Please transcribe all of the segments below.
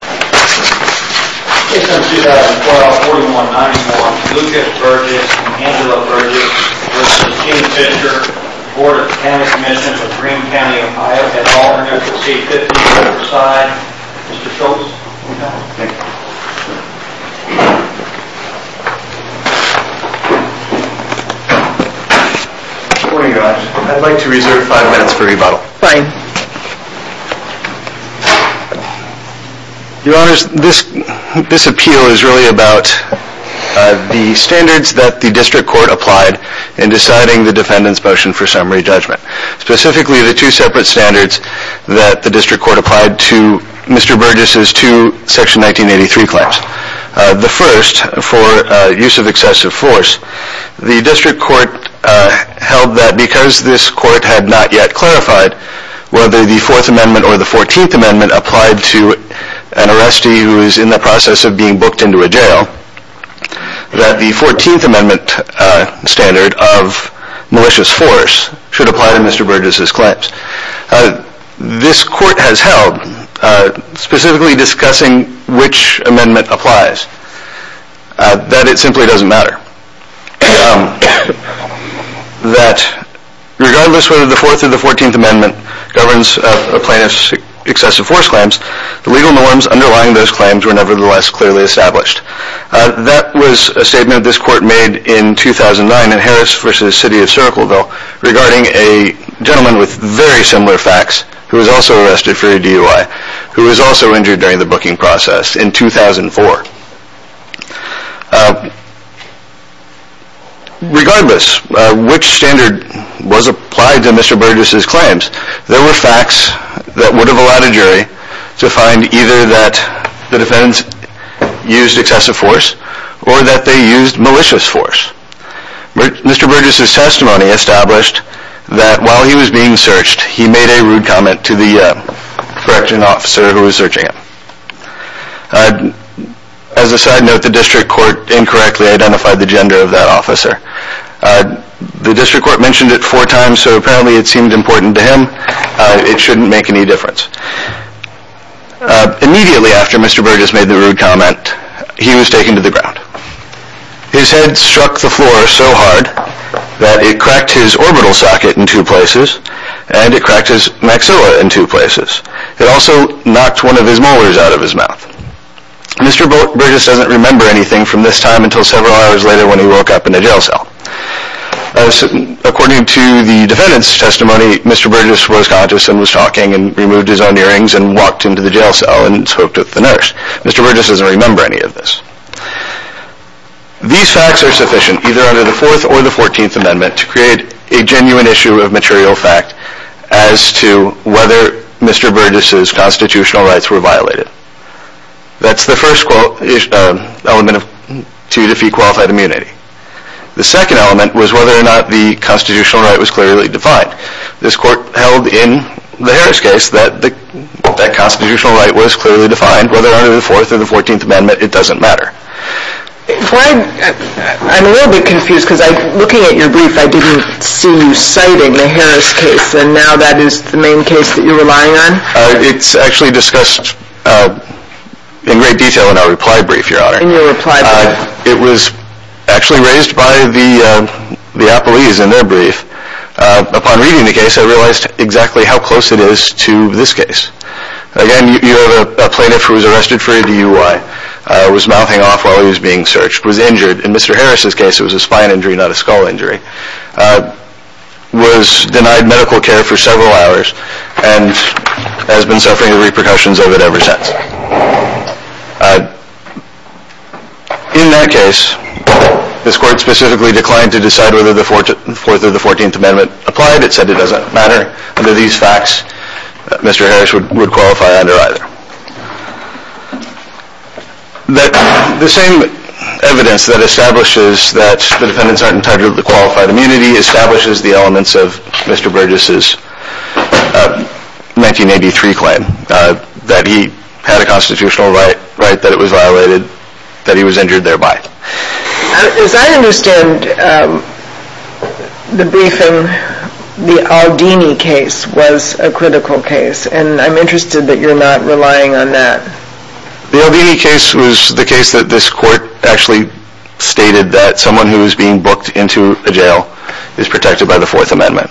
Case number 2012-4191 Lucas Burgess and Angela Burgess v. Gene Fischer Board of County Commissioners of Greene County, Ohio. At an all-or-nothing rate of 50 per side. Mr. Schultz. Good morning, guys. I'd like to reserve five minutes for rebuttal. Fine. Your Honors, this appeal is really about the standards that the district court applied in deciding the defendant's motion for summary judgment. Specifically, the two separate standards that the district court applied to Mr. Burgess' two Section 1983 claims. The first, for use of excessive force, the district court held that because this court had not yet clarified whether the Fourth Amendment or the Fourteenth Amendment applied to an arrestee who is in the process of being booked into a jail, that the Fourteenth Amendment standard of malicious force should apply to Mr. Burgess' claims. This court has held, specifically discussing which amendment applies, that it simply doesn't matter. That regardless whether the Fourth or the Fourteenth Amendment governs a plaintiff's excessive force claims, the legal norms underlying those claims were nevertheless clearly established. That was a statement this court made in 2009 in Harris v. City of Syracleville, regarding a gentleman with very similar facts, who was also arrested for a DUI, who was also injured during the booking process in 2004. Regardless, which standard was applied to Mr. Burgess' claims, there were facts that would have allowed a jury to find either that the defendants used excessive force, or that they used malicious force. Mr. Burgess' testimony established that while he was being searched, he made a rude comment to the correction officer who was searching him. As a side note, the district court incorrectly identified the gender of that officer. The district court mentioned it four times, so apparently it seemed important to him. It shouldn't make any difference. Immediately after Mr. Burgess made the rude comment, he was taken to the ground. His head struck the floor so hard that it cracked his orbital socket in two places, and it cracked his maxilla in two places. It also knocked one of his molars out of his mouth. Mr. Burgess doesn't remember anything from this time until several hours later when he woke up in a jail cell. According to the defendant's testimony, Mr. Burgess was conscious and was talking, and removed his own earrings and walked into the jail cell and spoke to the nurse. Mr. Burgess doesn't remember any of this. These facts are sufficient, either under the 4th or the 14th Amendment, to create a genuine issue of material fact as to whether Mr. Burgess' constitutional rights were violated. That's the first element to defeat qualified immunity. The second element was whether or not the constitutional right was clearly defined. This court held in the Harris case that the constitutional right was clearly defined. Whether under the 4th or the 14th Amendment, it doesn't matter. I'm a little bit confused because looking at your brief, I didn't see you citing the Harris case, and now that is the main case that you're relying on? It's actually discussed in great detail in our reply brief, Your Honor. In your reply brief. It was actually raised by the appellees in their brief. Upon reading the case, I realized exactly how close it is to this case. Again, you have a plaintiff who was arrested for a DUI. Was mouthing off while he was being searched. Was injured. In Mr. Harris' case, it was a spine injury, not a skull injury. Was denied medical care for several hours, and has been suffering the repercussions of it ever since. In that case, this court specifically declined to decide whether the 4th or the 14th Amendment applied. It said it doesn't matter. Under these facts, Mr. Harris would qualify under either. The same evidence that establishes that the defendants aren't entitled to qualified immunity establishes the elements of Mr. Burgess' 1983 claim that he had a constitutional right, that it was violated, that he was injured thereby. As I understand the briefing, the Aldini case was a critical case, and I'm interested that you're not relying on that. The Aldini case was the case that this court actually stated that someone who was being booked into a jail is protected by the 4th Amendment.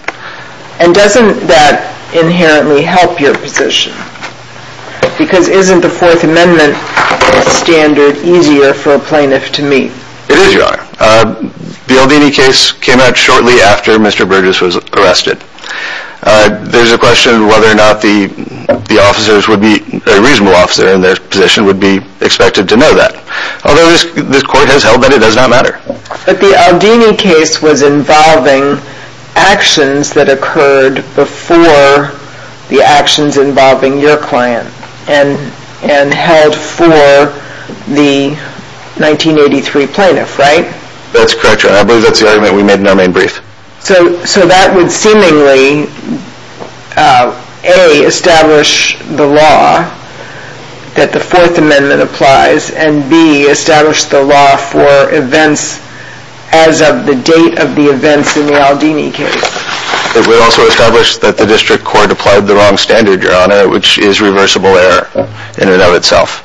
And doesn't that inherently help your position? Because isn't the 4th Amendment standard easier for a plaintiff to meet? It is, Your Honor. The Aldini case came out shortly after Mr. Burgess was arrested. There's a question whether or not the officers would be, a reasonable officer in their position, would be expected to know that. Although this court has held that it does not matter. But the Aldini case was involving actions that occurred before the actions involving your client and held for the 1983 plaintiff, right? That's correct, Your Honor. I believe that's the argument we made in our main brief. So that would seemingly, A, establish the law that the 4th Amendment applies, and B, establish the law for events as of the date of the events in the Aldini case. It would also establish that the district court applied the wrong standard, Your Honor, which is reversible error in and of itself.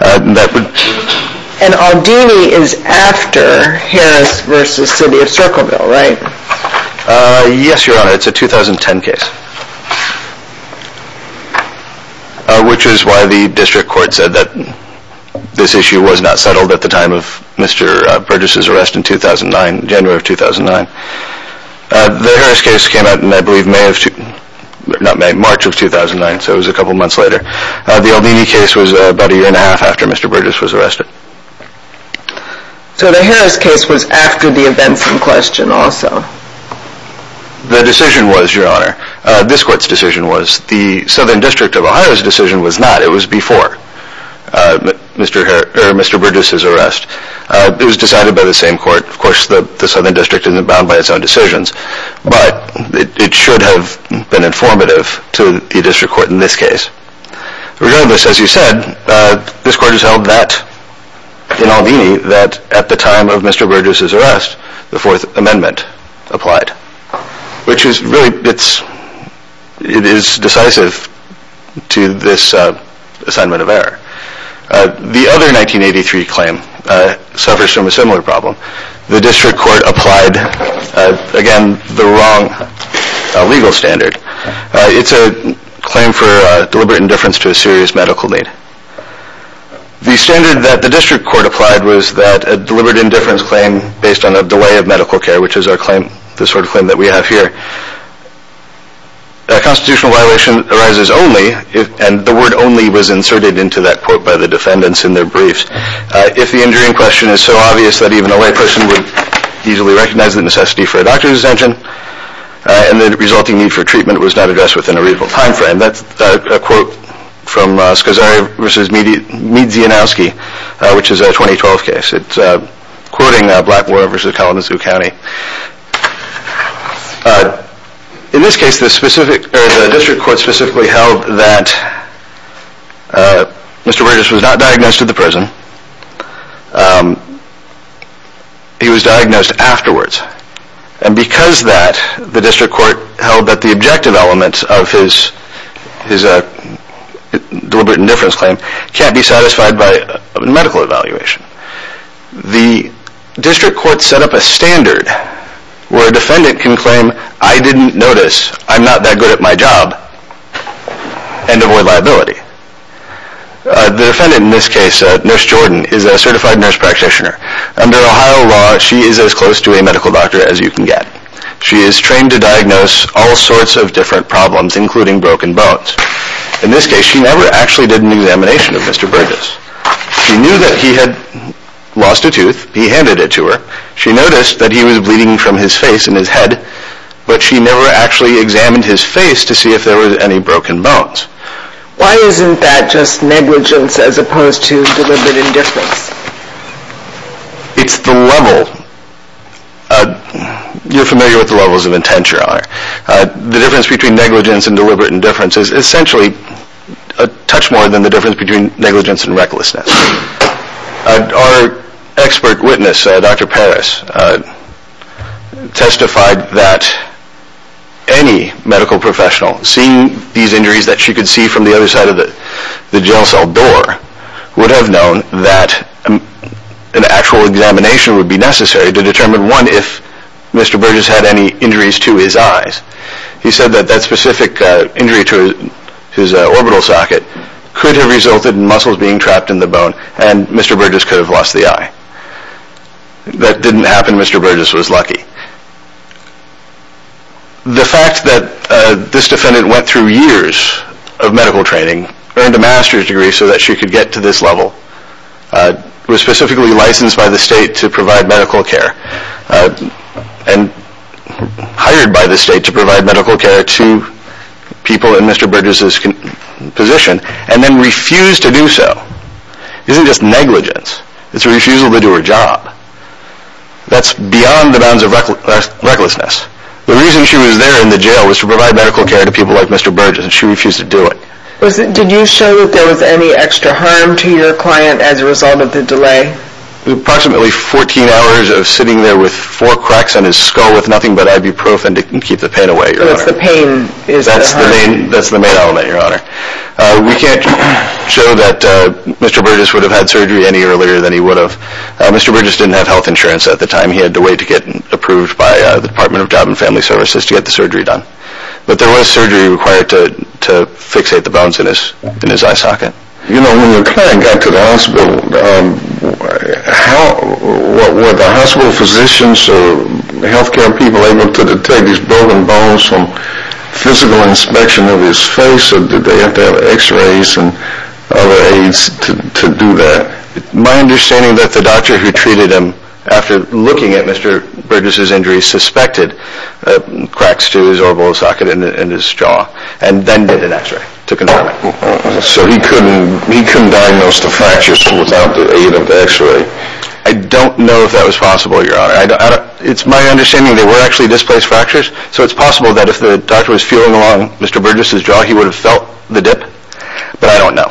And Aldini is after Harris v. City of Circleville, right? Yes, Your Honor. It's a 2010 case. Which is why the district court said that this issue was not settled at the time of Mr. Burgess' arrest in 2009, January of 2009. The Harris case came out in, I believe, May of, not May, March of 2009, so it was a couple months later. The Aldini case was about a year and a half after Mr. Burgess was arrested. So the Harris case was after the events in question also. The decision was, Your Honor, this court's decision was, the Southern District of Ohio's decision was not. It was before Mr. Burgess' arrest. It was decided by the same court. Of course, the Southern District isn't bound by its own decisions, but it should have been informative to the district court in this case. Regardless, as you said, this court has held that, in Aldini, that at the time of Mr. Burgess' arrest, the Fourth Amendment applied. Which is really, it is decisive to this assignment of error. The other 1983 claim suffers from a similar problem. The district court applied, again, the wrong legal standard. It's a claim for deliberate indifference to a serious medical need. The standard that the district court applied was that a deliberate indifference claim, based on a delay of medical care, which is our claim, the sort of claim that we have here, a constitutional violation arises only if, and the word only was inserted into that quote by the defendants in their briefs, if the injury in question is so obvious that even a layperson would easily recognize the necessity for a doctor's attention and the resulting need for treatment was not addressed within a reasonable time frame. And that's a quote from Scazzari v. Miedzianowski, which is a 2012 case. It's quoting Blackmore v. Kalamazoo County. In this case, the district court specifically held that Mr. Burgess was not diagnosed at the prison. He was diagnosed afterwards. And because of that, the district court held that the objective elements of his deliberate indifference claim can't be satisfied by a medical evaluation. The district court set up a standard where a defendant can claim, I didn't notice, I'm not that good at my job, and avoid liability. The defendant in this case, Nurse Jordan, is a certified nurse practitioner. Under Ohio law, she is as close to a medical doctor as you can get. She is trained to diagnose all sorts of different problems, including broken bones. In this case, she never actually did an examination of Mr. Burgess. She knew that he had lost a tooth. He handed it to her. She noticed that he was bleeding from his face and his head, but she never actually examined his face to see if there were any broken bones. Why isn't that just negligence as opposed to deliberate indifference? It's the level. You're familiar with the levels of intent you're on. The difference between negligence and deliberate indifference is essentially a touch more than the difference between negligence and recklessness. Our expert witness, Dr. Parris, testified that any medical professional, seeing these injuries that she could see from the other side of the jail cell door, would have known that an actual examination would be necessary to determine, one, if Mr. Burgess had any injuries to his eyes. He said that that specific injury to his orbital socket could have resulted in muscles being trapped in the bone, and Mr. Burgess could have lost the eye. That didn't happen. Mr. Burgess was lucky. The fact that this defendant went through years of medical training, earned a master's degree so that she could get to this level, was specifically licensed by the state to provide medical care, and hired by the state to provide medical care to people in Mr. Burgess's position, and then refused to do so, isn't just negligence. It's a refusal to do her job. That's beyond the bounds of recklessness. The reason she was there in the jail was to provide medical care to people like Mr. Burgess, and she refused to do it. Did you show that there was any extra harm to your client as a result of the delay? Approximately 14 hours of sitting there with four cracks on his skull with nothing but ibuprofen to keep the pain away, Your Honor. So it's the pain that's the harm? That's the main element, Your Honor. We can't show that Mr. Burgess would have had surgery any earlier than he would have. Mr. Burgess didn't have health insurance at the time. He had to wait to get approved by the Department of Job and Family Services to get the surgery done. But there was surgery required to fixate the bones in his eye socket. When your client got to the hospital, were the hospital physicians or health care people able to detect these broken bones from physical inspection of his face, or did they have to have x-rays and other aids to do that? My understanding is that the doctor who treated him, after looking at Mr. Burgess' injury, suspected cracks to his orbital socket and his jaw, and then did an x-ray to confirm it. So he couldn't diagnose the fractures without the aid of the x-ray? I don't know if that was possible, Your Honor. It's my understanding there were actually displaced fractures, so it's possible that if the doctor was feeling along Mr. Burgess' jaw, he would have felt the dip, but I don't know.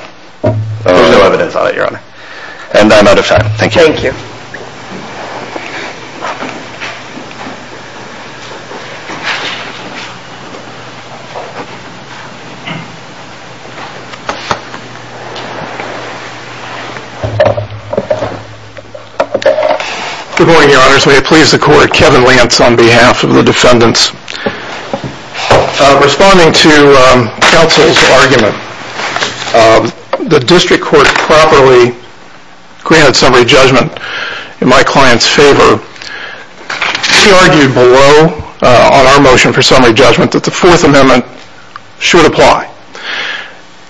There's no evidence on it, Your Honor. And I'm out of time. Thank you. Thank you. Good morning, Your Honors. May it please the Court, Kevin Lance on behalf of the defendants. Responding to counsel's argument, the district court properly granted summary judgment in my client's favor. She argued below on our motion for summary judgment that the Fourth Amendment should apply.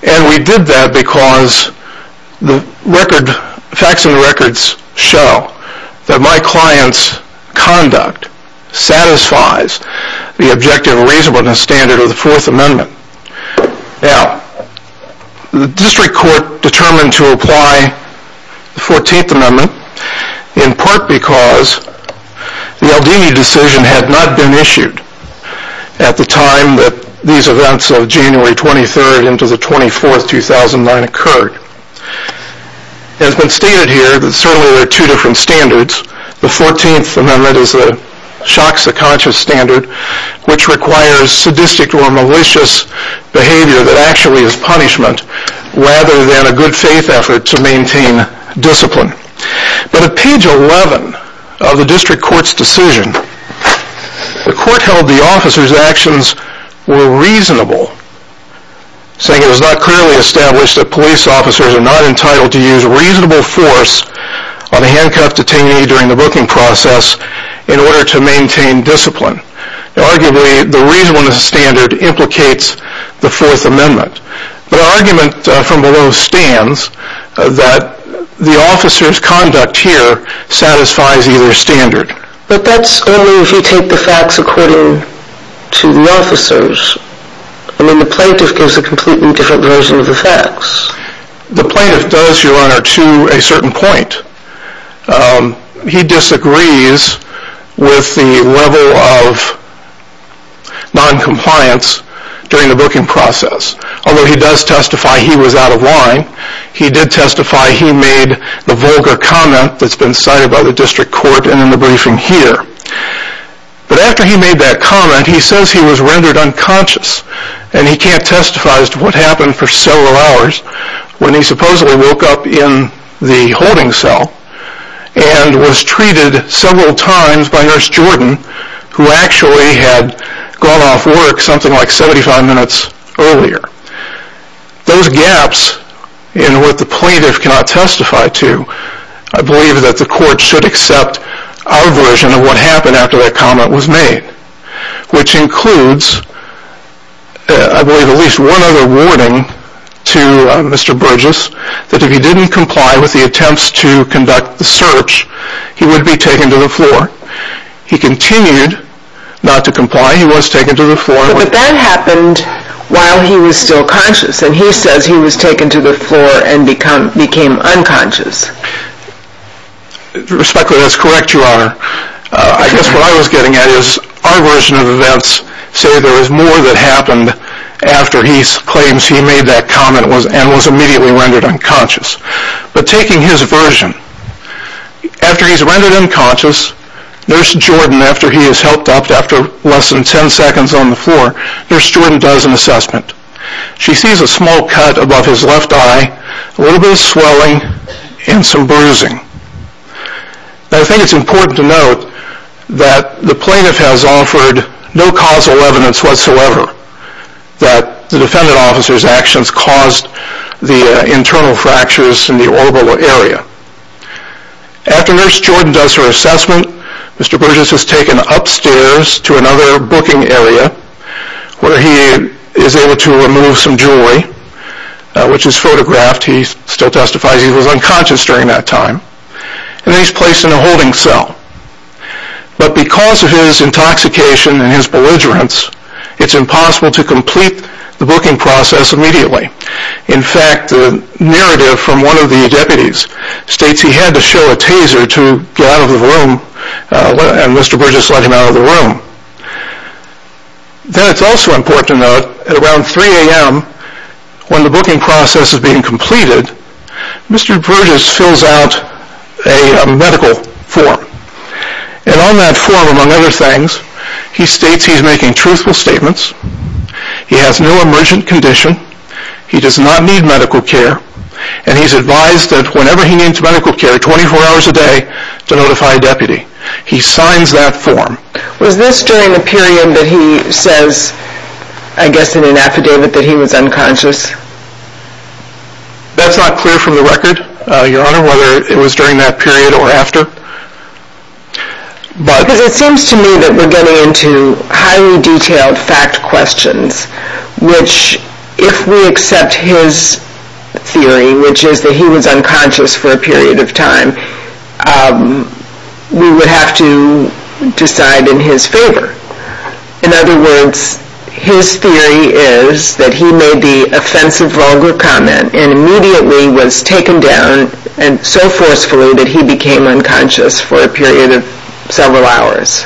And we did that because the facts and records show that my client's conduct satisfies the objective and reasonableness standard of the Fourth Amendment. Now, the district court determined to apply the 14th Amendment in part because the Aldini decision had not been issued at the time that these events of January 23rd into the 24th, 2009, occurred. It has been stated here that certainly there are two different standards. The 14th Amendment is a shock-to-conscious standard which requires sadistic or malicious behavior that actually is punishment rather than a good-faith effort to maintain discipline. But at page 11 of the district court's decision, the court held the officer's actions were reasonable, saying it was not clearly established that police officers are not entitled to use reasonable force on a handcuffed detainee during the booking process in order to maintain discipline. Arguably, the reasonableness standard implicates the Fourth Amendment. But our argument from below stands that the officer's conduct here satisfies either standard. But that's only if you take the facts according to the officers. I mean, the plaintiff gives a completely different version of the facts. The plaintiff does, Your Honor, to a certain point. He disagrees with the level of noncompliance during the booking process. Although he does testify he was out of line, he did testify he made the vulgar comment that's been cited by the district court and in the briefing here. But after he made that comment, he says he was rendered unconscious and he can't testify as to what happened for several hours when he supposedly woke up in the holding cell and was treated several times by Nurse Jordan, who actually had gone off work something like 75 minutes earlier. Those gaps in what the plaintiff cannot testify to, I believe that the court should accept our version of what happened after that comment was made, which includes, I believe, at least one other warning to Mr. Burgess that if he didn't comply with the attempts to conduct the search, he would be taken to the floor. He continued not to comply. He was taken to the floor. But that happened while he was still conscious, and he says he was taken to the floor and became unconscious. Respectfully, that's correct, Your Honor. I guess what I was getting at is our version of events say there was more that happened after he claims he made that comment and was immediately rendered unconscious. But taking his version, after he's rendered unconscious, Nurse Jordan, after he has helped up, after less than 10 seconds on the floor, Nurse Jordan does an assessment. She sees a small cut above his left eye, a little bit of swelling, and some bruising. I think it's important to note that the plaintiff has offered no causal evidence whatsoever that the defendant officer's actions caused the internal fractures in the orbital area. After Nurse Jordan does her assessment, Mr. Burgess is taken upstairs to another booking area where he is able to remove some jewelry, which is photographed. He still testifies he was unconscious during that time. And he's placed in a holding cell. But because of his intoxication and his belligerence, it's impossible to complete the booking process immediately. In fact, the narrative from one of the deputies states he had to show a taser to get out of the room, and Mr. Burgess let him out of the room. Then it's also important to note that around 3 a.m., when the booking process is being completed, Mr. Burgess fills out a medical form. And on that form, among other things, he states he's making truthful statements, he has no emergent condition, he does not need medical care, and he's advised that whenever he needs medical care, 24 hours a day, to notify a deputy. He signs that form. Was this during the period that he says, I guess in an affidavit, that he was unconscious? That's not clear from the record, Your Honor, whether it was during that period or after. Because it seems to me that we're getting into highly detailed fact questions, which if we accept his theory, which is that he was unconscious for a period of time, we would have to decide in his favor. In other words, his theory is that he made the offensive, vulgar comment and immediately was taken down so forcefully that he became unconscious for a period of several hours.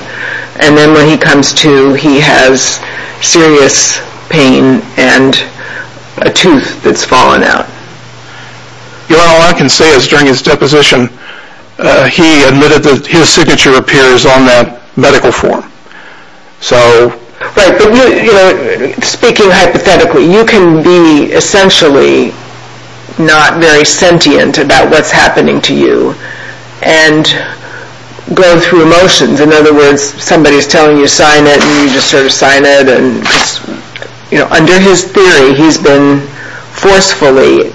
And then when he comes to, he has serious pain and a tooth that's fallen out. Your Honor, all I can say is during his deposition, he admitted that his signature appears on that medical form. Right, but speaking hypothetically, you can be essentially not very sentient about what's happening to you and go through emotions. In other words, somebody's telling you to sign it and you just sort of sign it. Under his theory, he's been forcefully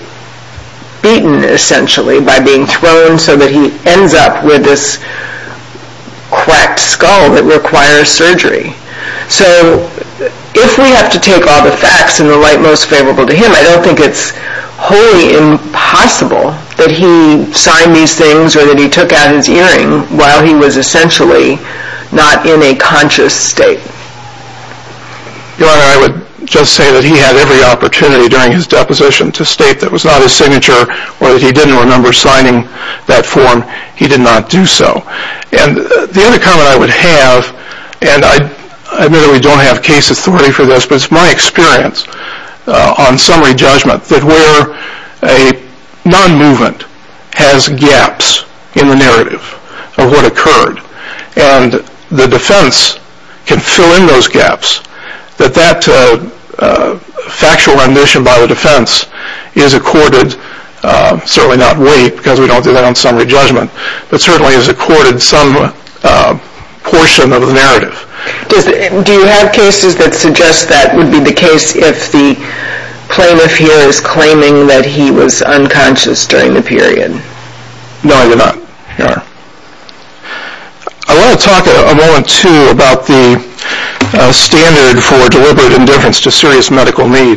beaten, essentially, by being thrown so that he ends up with this cracked skull that requires surgery. So if we have to take all the facts in the light most favorable to him, I don't think it's wholly impossible that he signed these things or that he took out his earring while he was essentially not in a conscious state. Your Honor, I would just say that he had every opportunity during his deposition to state that it was not his signature or that he didn't remember signing that form. He did not do so. And the other comment I would have, and I admit that we don't have case authority for this, but it's my experience on summary judgment that where a non-movement has gaps in the narrative of what occurred and the defense can fill in those gaps, that that factual remission by the defense is accorded, certainly not weight because we don't do that on summary judgment, but certainly is accorded some portion of the narrative. Do you have cases that suggest that would be the case if the plaintiff here is claiming that he was unconscious during the period? No, Your Honor. I want to talk a moment, too, about the standard for deliberate indifference to serious medical need.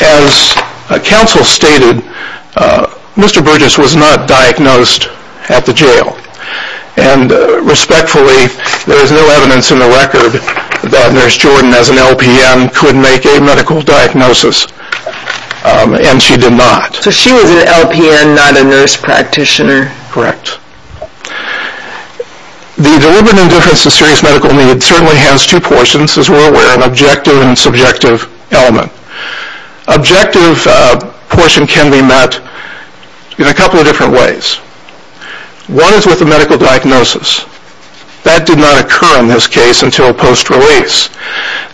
As counsel stated, Mr. Burgess was not diagnosed at the jail, and respectfully, there is no evidence in the record that Nurse Jordan as an LPN could make a medical diagnosis, and she did not. So she was an LPN, not a nurse practitioner? Correct. The deliberate indifference to serious medical need certainly has two portions, as we're aware, an objective and subjective element. Objective portion can be met in a couple of different ways. One is with a medical diagnosis. That did not occur in this case until post-release.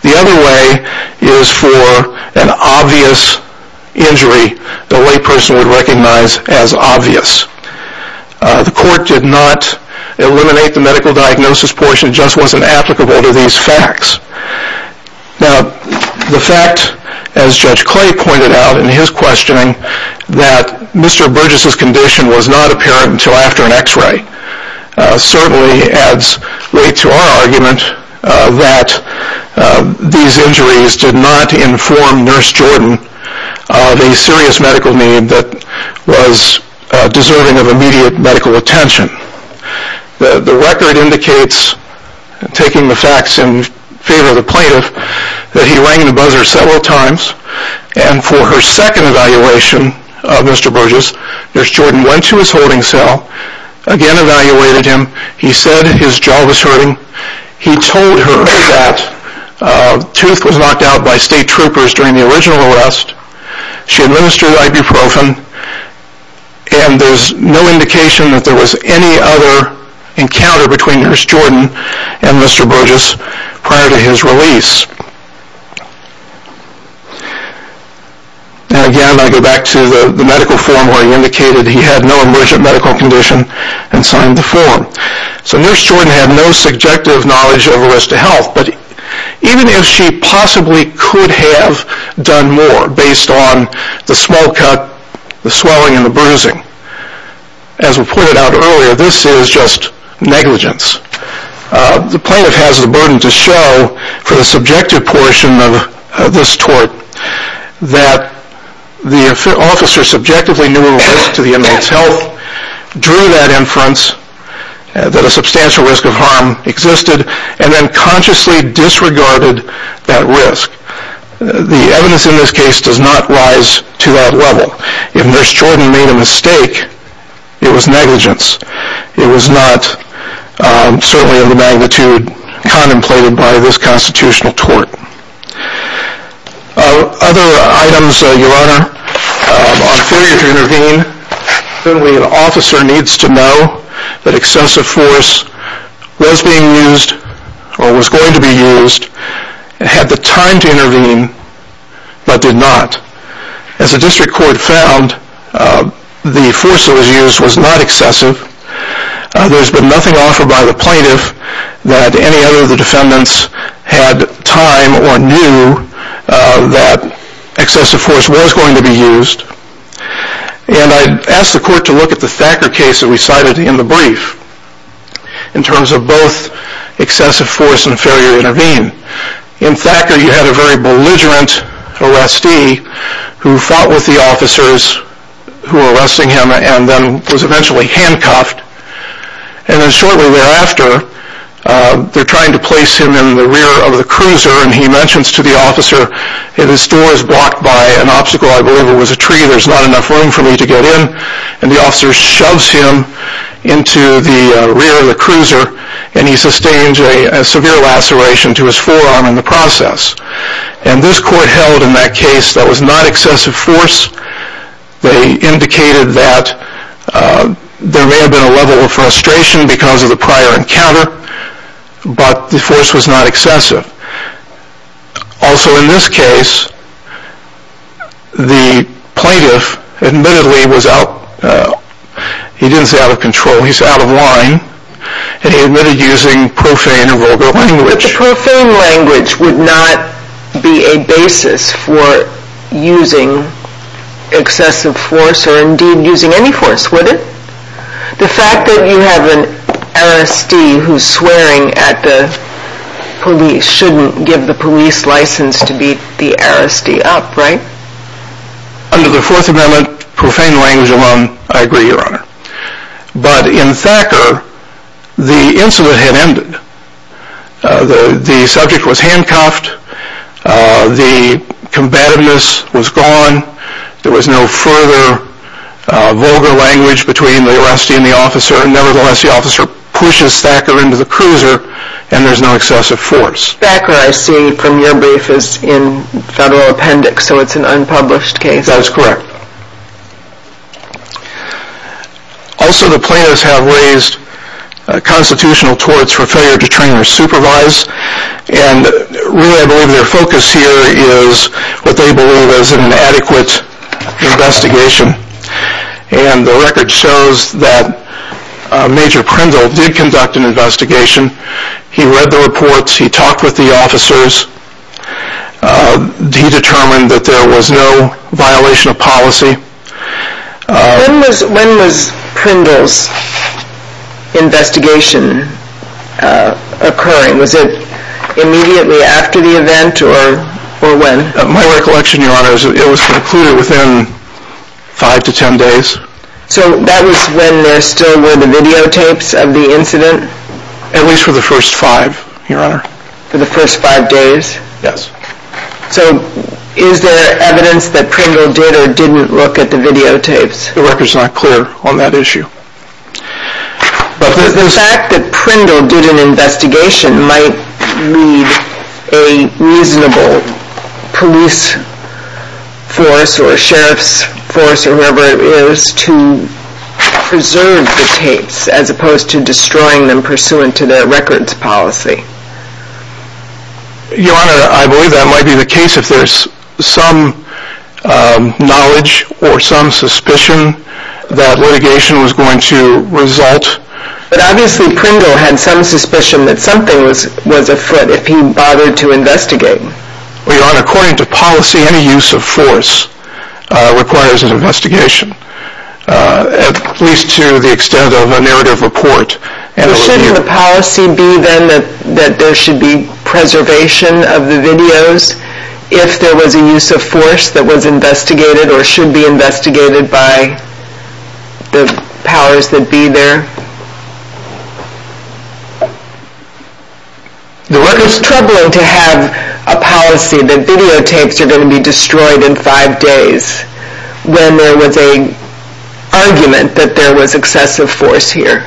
The other way is for an obvious injury the layperson would recognize as obvious. The court did not eliminate the medical diagnosis portion. It just wasn't applicable to these facts. Now, the fact, as Judge Clay pointed out in his questioning, that Mr. Burgess's condition was not apparent until after an X-ray certainly adds weight to our argument that these injuries did not inform Nurse Jordan of a serious medical need that was deserving of immediate medical attention. The record indicates, taking the facts in favor of the plaintiff, that he rang the buzzer several times, and for her second evaluation of Mr. Burgess, Nurse Jordan went to his holding cell, again evaluated him. He said his jaw was hurting. He told her that tooth was knocked out by state troopers during the original arrest. She administered ibuprofen, and there's no indication that there was any other encounter between Nurse Jordan and Mr. Burgess prior to his release. Now, again, I go back to the medical form where he indicated he had no emergent medical condition and signed the form. So Nurse Jordan had no subjective knowledge of Arrest of Health, but even if she possibly could have done more based on the swell cut, the swelling, and the bruising, as was pointed out earlier, this is just negligence. The plaintiff has the burden to show for the subjective portion of this tort that the officer subjectively knew of Arrest of the Inmate's Health, drew that inference that a substantial risk of harm existed, and then consciously disregarded that risk. The evidence in this case does not rise to that level. If Nurse Jordan made a mistake, it was negligence. It was not certainly of the magnitude contemplated by this constitutional tort. Other items, Your Honor, on failure to intervene, certainly an officer needs to know that excessive force was being used or was going to be used and had the time to intervene but did not. As the District Court found, the force that was used was not excessive, there's been nothing offered by the plaintiff that any other of the defendants had time or knew that excessive force was going to be used, and I asked the court to look at the Thacker case that we cited in the brief in terms of both excessive force and failure to intervene. In Thacker, you had a very belligerent arrestee who fought with the officers who were arresting him and then was eventually handcuffed. Shortly thereafter, they're trying to place him in the rear of the cruiser and he mentions to the officer, this door is blocked by an obstacle, I believe it was a tree, there's not enough room for me to get in, and the officer shoves him into the rear of the cruiser and he sustains a severe laceration to his forearm in the process. And this court held in that case that was not excessive force, they indicated that there may have been a level of frustration because of the prior encounter, but the force was not excessive. Also in this case, the plaintiff admittedly was out, he didn't say out of control, he said out of line, and he admitted using profane and vulgar language. But the profane language would not be a basis for using excessive force or indeed using any force, would it? The fact that you have an arrestee who's swearing at the police shouldn't give the police license to beat the arrestee up, right? Under the Fourth Amendment, profane language alone, I agree, Your Honor. But in Thacker, the incident had ended. The subject was handcuffed, the combativeness was gone, there was no further vulgar language between the arrestee and the officer, nevertheless the officer pushes Thacker into the cruiser and there's no excessive force. Thacker, I see from your brief, is in federal appendix, so it's an unpublished case. I think that's correct. Also the plaintiffs have raised constitutional torts for failure to train or supervise, and really I believe their focus here is what they believe is an adequate investigation. And the record shows that Major Prendell did conduct an investigation. He read the reports, he talked with the officers, he determined that there was no violation of policy. When was Prendell's investigation occurring? Was it immediately after the event or when? My recollection, Your Honor, is that it was concluded within five to ten days. So that was when there still were the videotapes of the incident? At least for the first five, Your Honor. For the first five days? Yes. So is there evidence that Prendell did or didn't look at the videotapes? The record's not clear on that issue. But the fact that Prendell did an investigation might lead a reasonable police force or sheriff's force or whoever it is to preserve the tapes as opposed to destroying them pursuant to their records policy. Your Honor, I believe that might be the case if there's some knowledge or some suspicion that litigation was going to result. But obviously Prendell had some suspicion that something was afoot if he bothered to investigate. Your Honor, according to policy, any use of force requires an investigation, at least to the extent of a narrative report. Shouldn't the policy be then that there should be preservation of the videos if there was a use of force that was investigated or should be investigated by the powers that be there? The record's troubling to have a policy that videotapes are going to be destroyed in five days when there was an argument that there was excessive force here.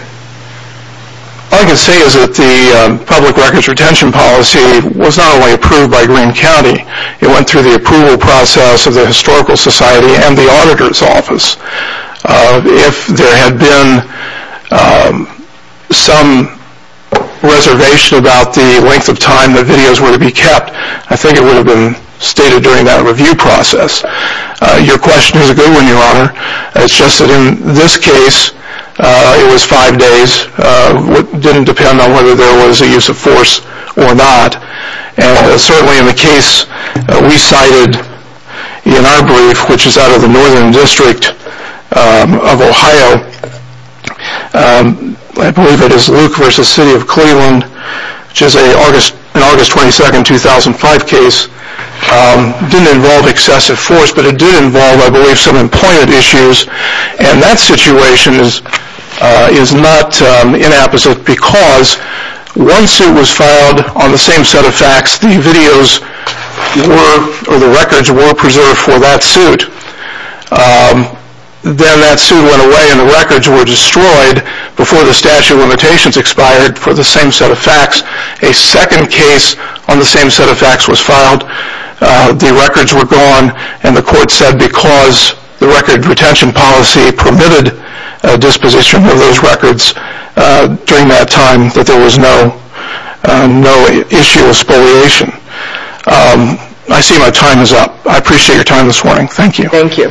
All I can say is that the public records retention policy was not only approved by Greene County, it went through the approval process of the Historical Society and the Auditor's Office. If there had been some reservation about the length of time the videos were to be kept, I think it would have been stated during that review process. Your question is a good one, Your Honor. It's just that in this case, it was five days. It didn't depend on whether there was a use of force or not. Certainly in the case we cited in our brief, which is out of the Northern District of Ohio, I believe it is Luke v. City of Cleveland, which is an August 22, 2005 case, didn't involve excessive force, but it did involve, I believe, some employment issues. That situation is not inapposite because once it was filed on the same set of facts, the records were preserved for that suit. Then that suit went away and the records were destroyed before the statute of limitations expired for the same set of facts. A second case on the same set of facts was filed. The records were gone and the court said because the record retention policy permitted disposition of those records during that time that there was no issue of spoliation. I see my time is up. I appreciate your time this morning. Thank you. Thank you.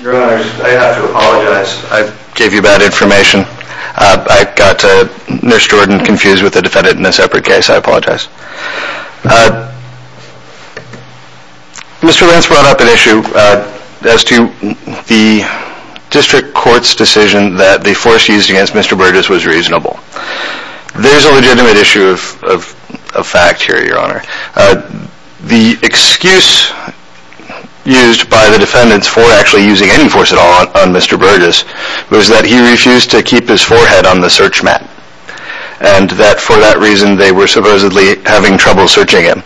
Your Honors, I have to apologize. I gave you bad information. I got Nurse Jordan confused with the defendant in a separate case. I apologize. Mr. Lentz brought up an issue as to the District Court's decision that the force used against Mr. Burgess was reasonable. There's a legitimate issue of fact here, Your Honor. The excuse used by the defendants for actually using any force at all on Mr. Burgess was that he refused to keep his forehead on the search mat and that for that reason they were supposedly having trouble searching him.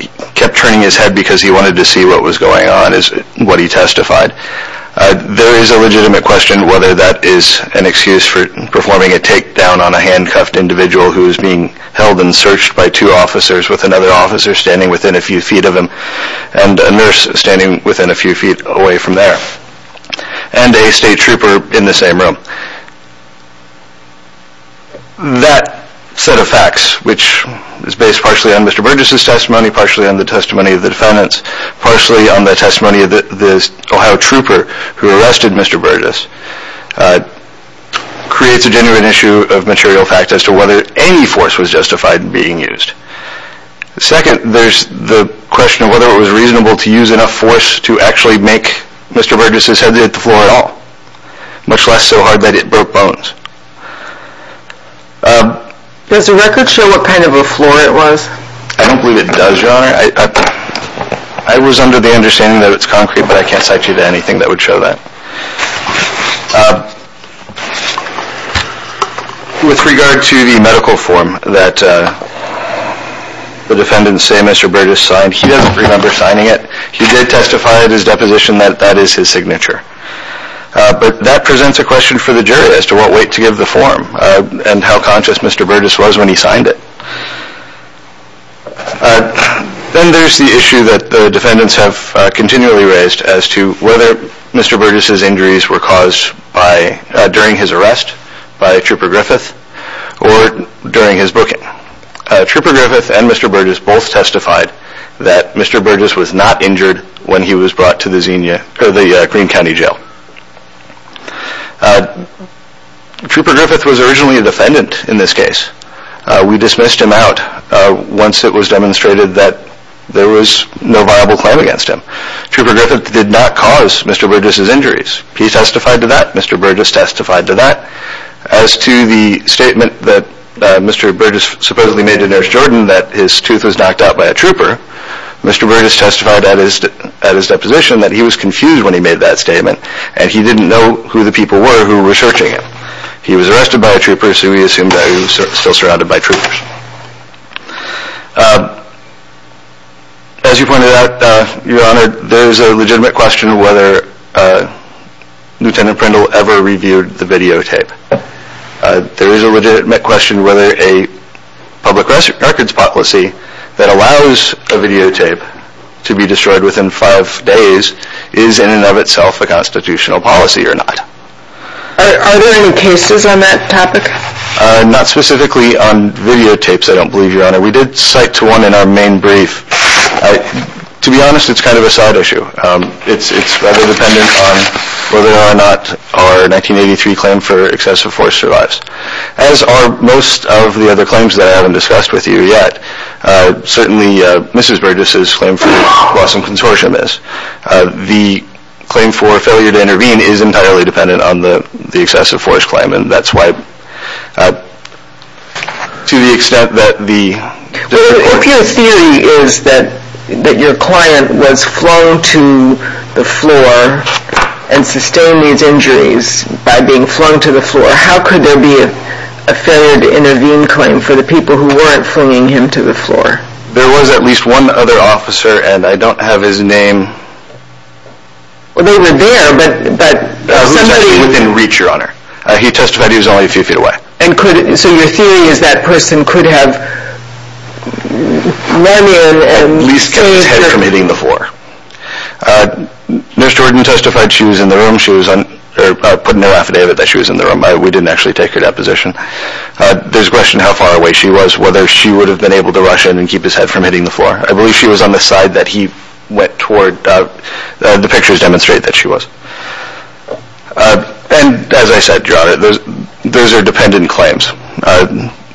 He kept turning his head because he wanted to see what was going on, is what he testified. There is a legitimate question whether that is an excuse for performing a takedown on a handcuffed individual who is being held and searched by two officers with another officer standing within a few feet of him and a nurse standing within a few feet away from there and a state trooper in the same room. That set of facts, which is based partially on Mr. Burgess' testimony, partially on the testimony of the defendants, partially on the testimony of the Ohio trooper who arrested Mr. Burgess, creates a genuine issue of material fact as to whether any force was justified in being used. Second, there's the question of whether it was reasonable to use enough force to actually make Mr. Burgess' head hit the floor at all, much less so hard that it broke bones. Does the record show what kind of a floor it was? I don't believe it does, Your Honor. I was under the understanding that it's concrete, but I can't cite you to anything that would show that. With regard to the medical form that the defendants say Mr. Burgess signed, he doesn't remember signing it. He did testify at his deposition that that is his signature. But that presents a question for the jury as to what weight to give the form and how conscious Mr. Burgess was when he signed it. Then there's the issue that the defendants have continually raised as to whether Mr. Burgess' injuries were caused during his arrest by Trooper Griffith or during his booking. Trooper Griffith and Mr. Burgess both testified that Mr. Burgess was not injured when he was brought to the Green County Jail. Trooper Griffith was originally a defendant in this case. We dismissed him out once it was demonstrated that there was no viable claim against him. Trooper Griffith did not cause Mr. Burgess' injuries. He testified to that. Mr. Burgess testified to that. As to the statement that Mr. Burgess supposedly made to Nurse Jordan that his tooth was knocked out by a trooper, Mr. Burgess testified at his deposition that he was confused when he made that statement and he didn't know who the people were who were searching him. He was arrested by a trooper, so we assumed that he was still surrounded by troopers. As you pointed out, Your Honor, there is a legitimate question whether Lieutenant Prindle ever reviewed the videotape. There is a legitimate question whether a public records policy that allows a videotape to be destroyed within five days is in and of itself a constitutional policy or not. Are there any cases on that topic? Not specifically on videotapes, I don't believe, Your Honor. We did cite to one in our main brief. To be honest, it's kind of a side issue. It's rather dependent on whether or not our 1983 claim for excessive force survives. As are most of the other claims that I haven't discussed with you yet. Certainly, Mrs. Burgess' claim for Wesson Consortium is. The claim for failure to intervene is entirely dependent on the excessive force claim and that's why, to the extent that the... Well, the opioid theory is that your client was flung to the floor so how could there be a failure to intervene claim for the people who weren't flinging him to the floor? There was at least one other officer and I don't have his name. They were there but... Within reach, Your Honor. He testified he was only a few feet away. So your theory is that person could have run in and... At least kept his head from hitting the floor. Nurse Jordan testified she was in the room. She put no affidavit that she was in the room. We didn't actually take her deposition. There's a question of how far away she was, whether she would have been able to rush in and keep his head from hitting the floor. I believe she was on the side that he went toward. The pictures demonstrate that she was. And as I said, Your Honor, those are dependent claims.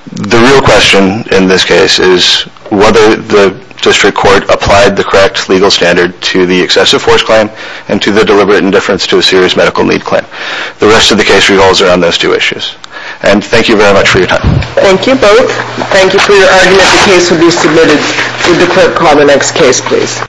The real question in this case is whether the district court applied the correct legal standard to the excessive force claim and to the deliberate indifference to a serious medical need claim. The rest of the case revolves around those two issues. And thank you very much for your time. Thank you both. Thank you for your argument. The case will be submitted to the court. Call the next case, please.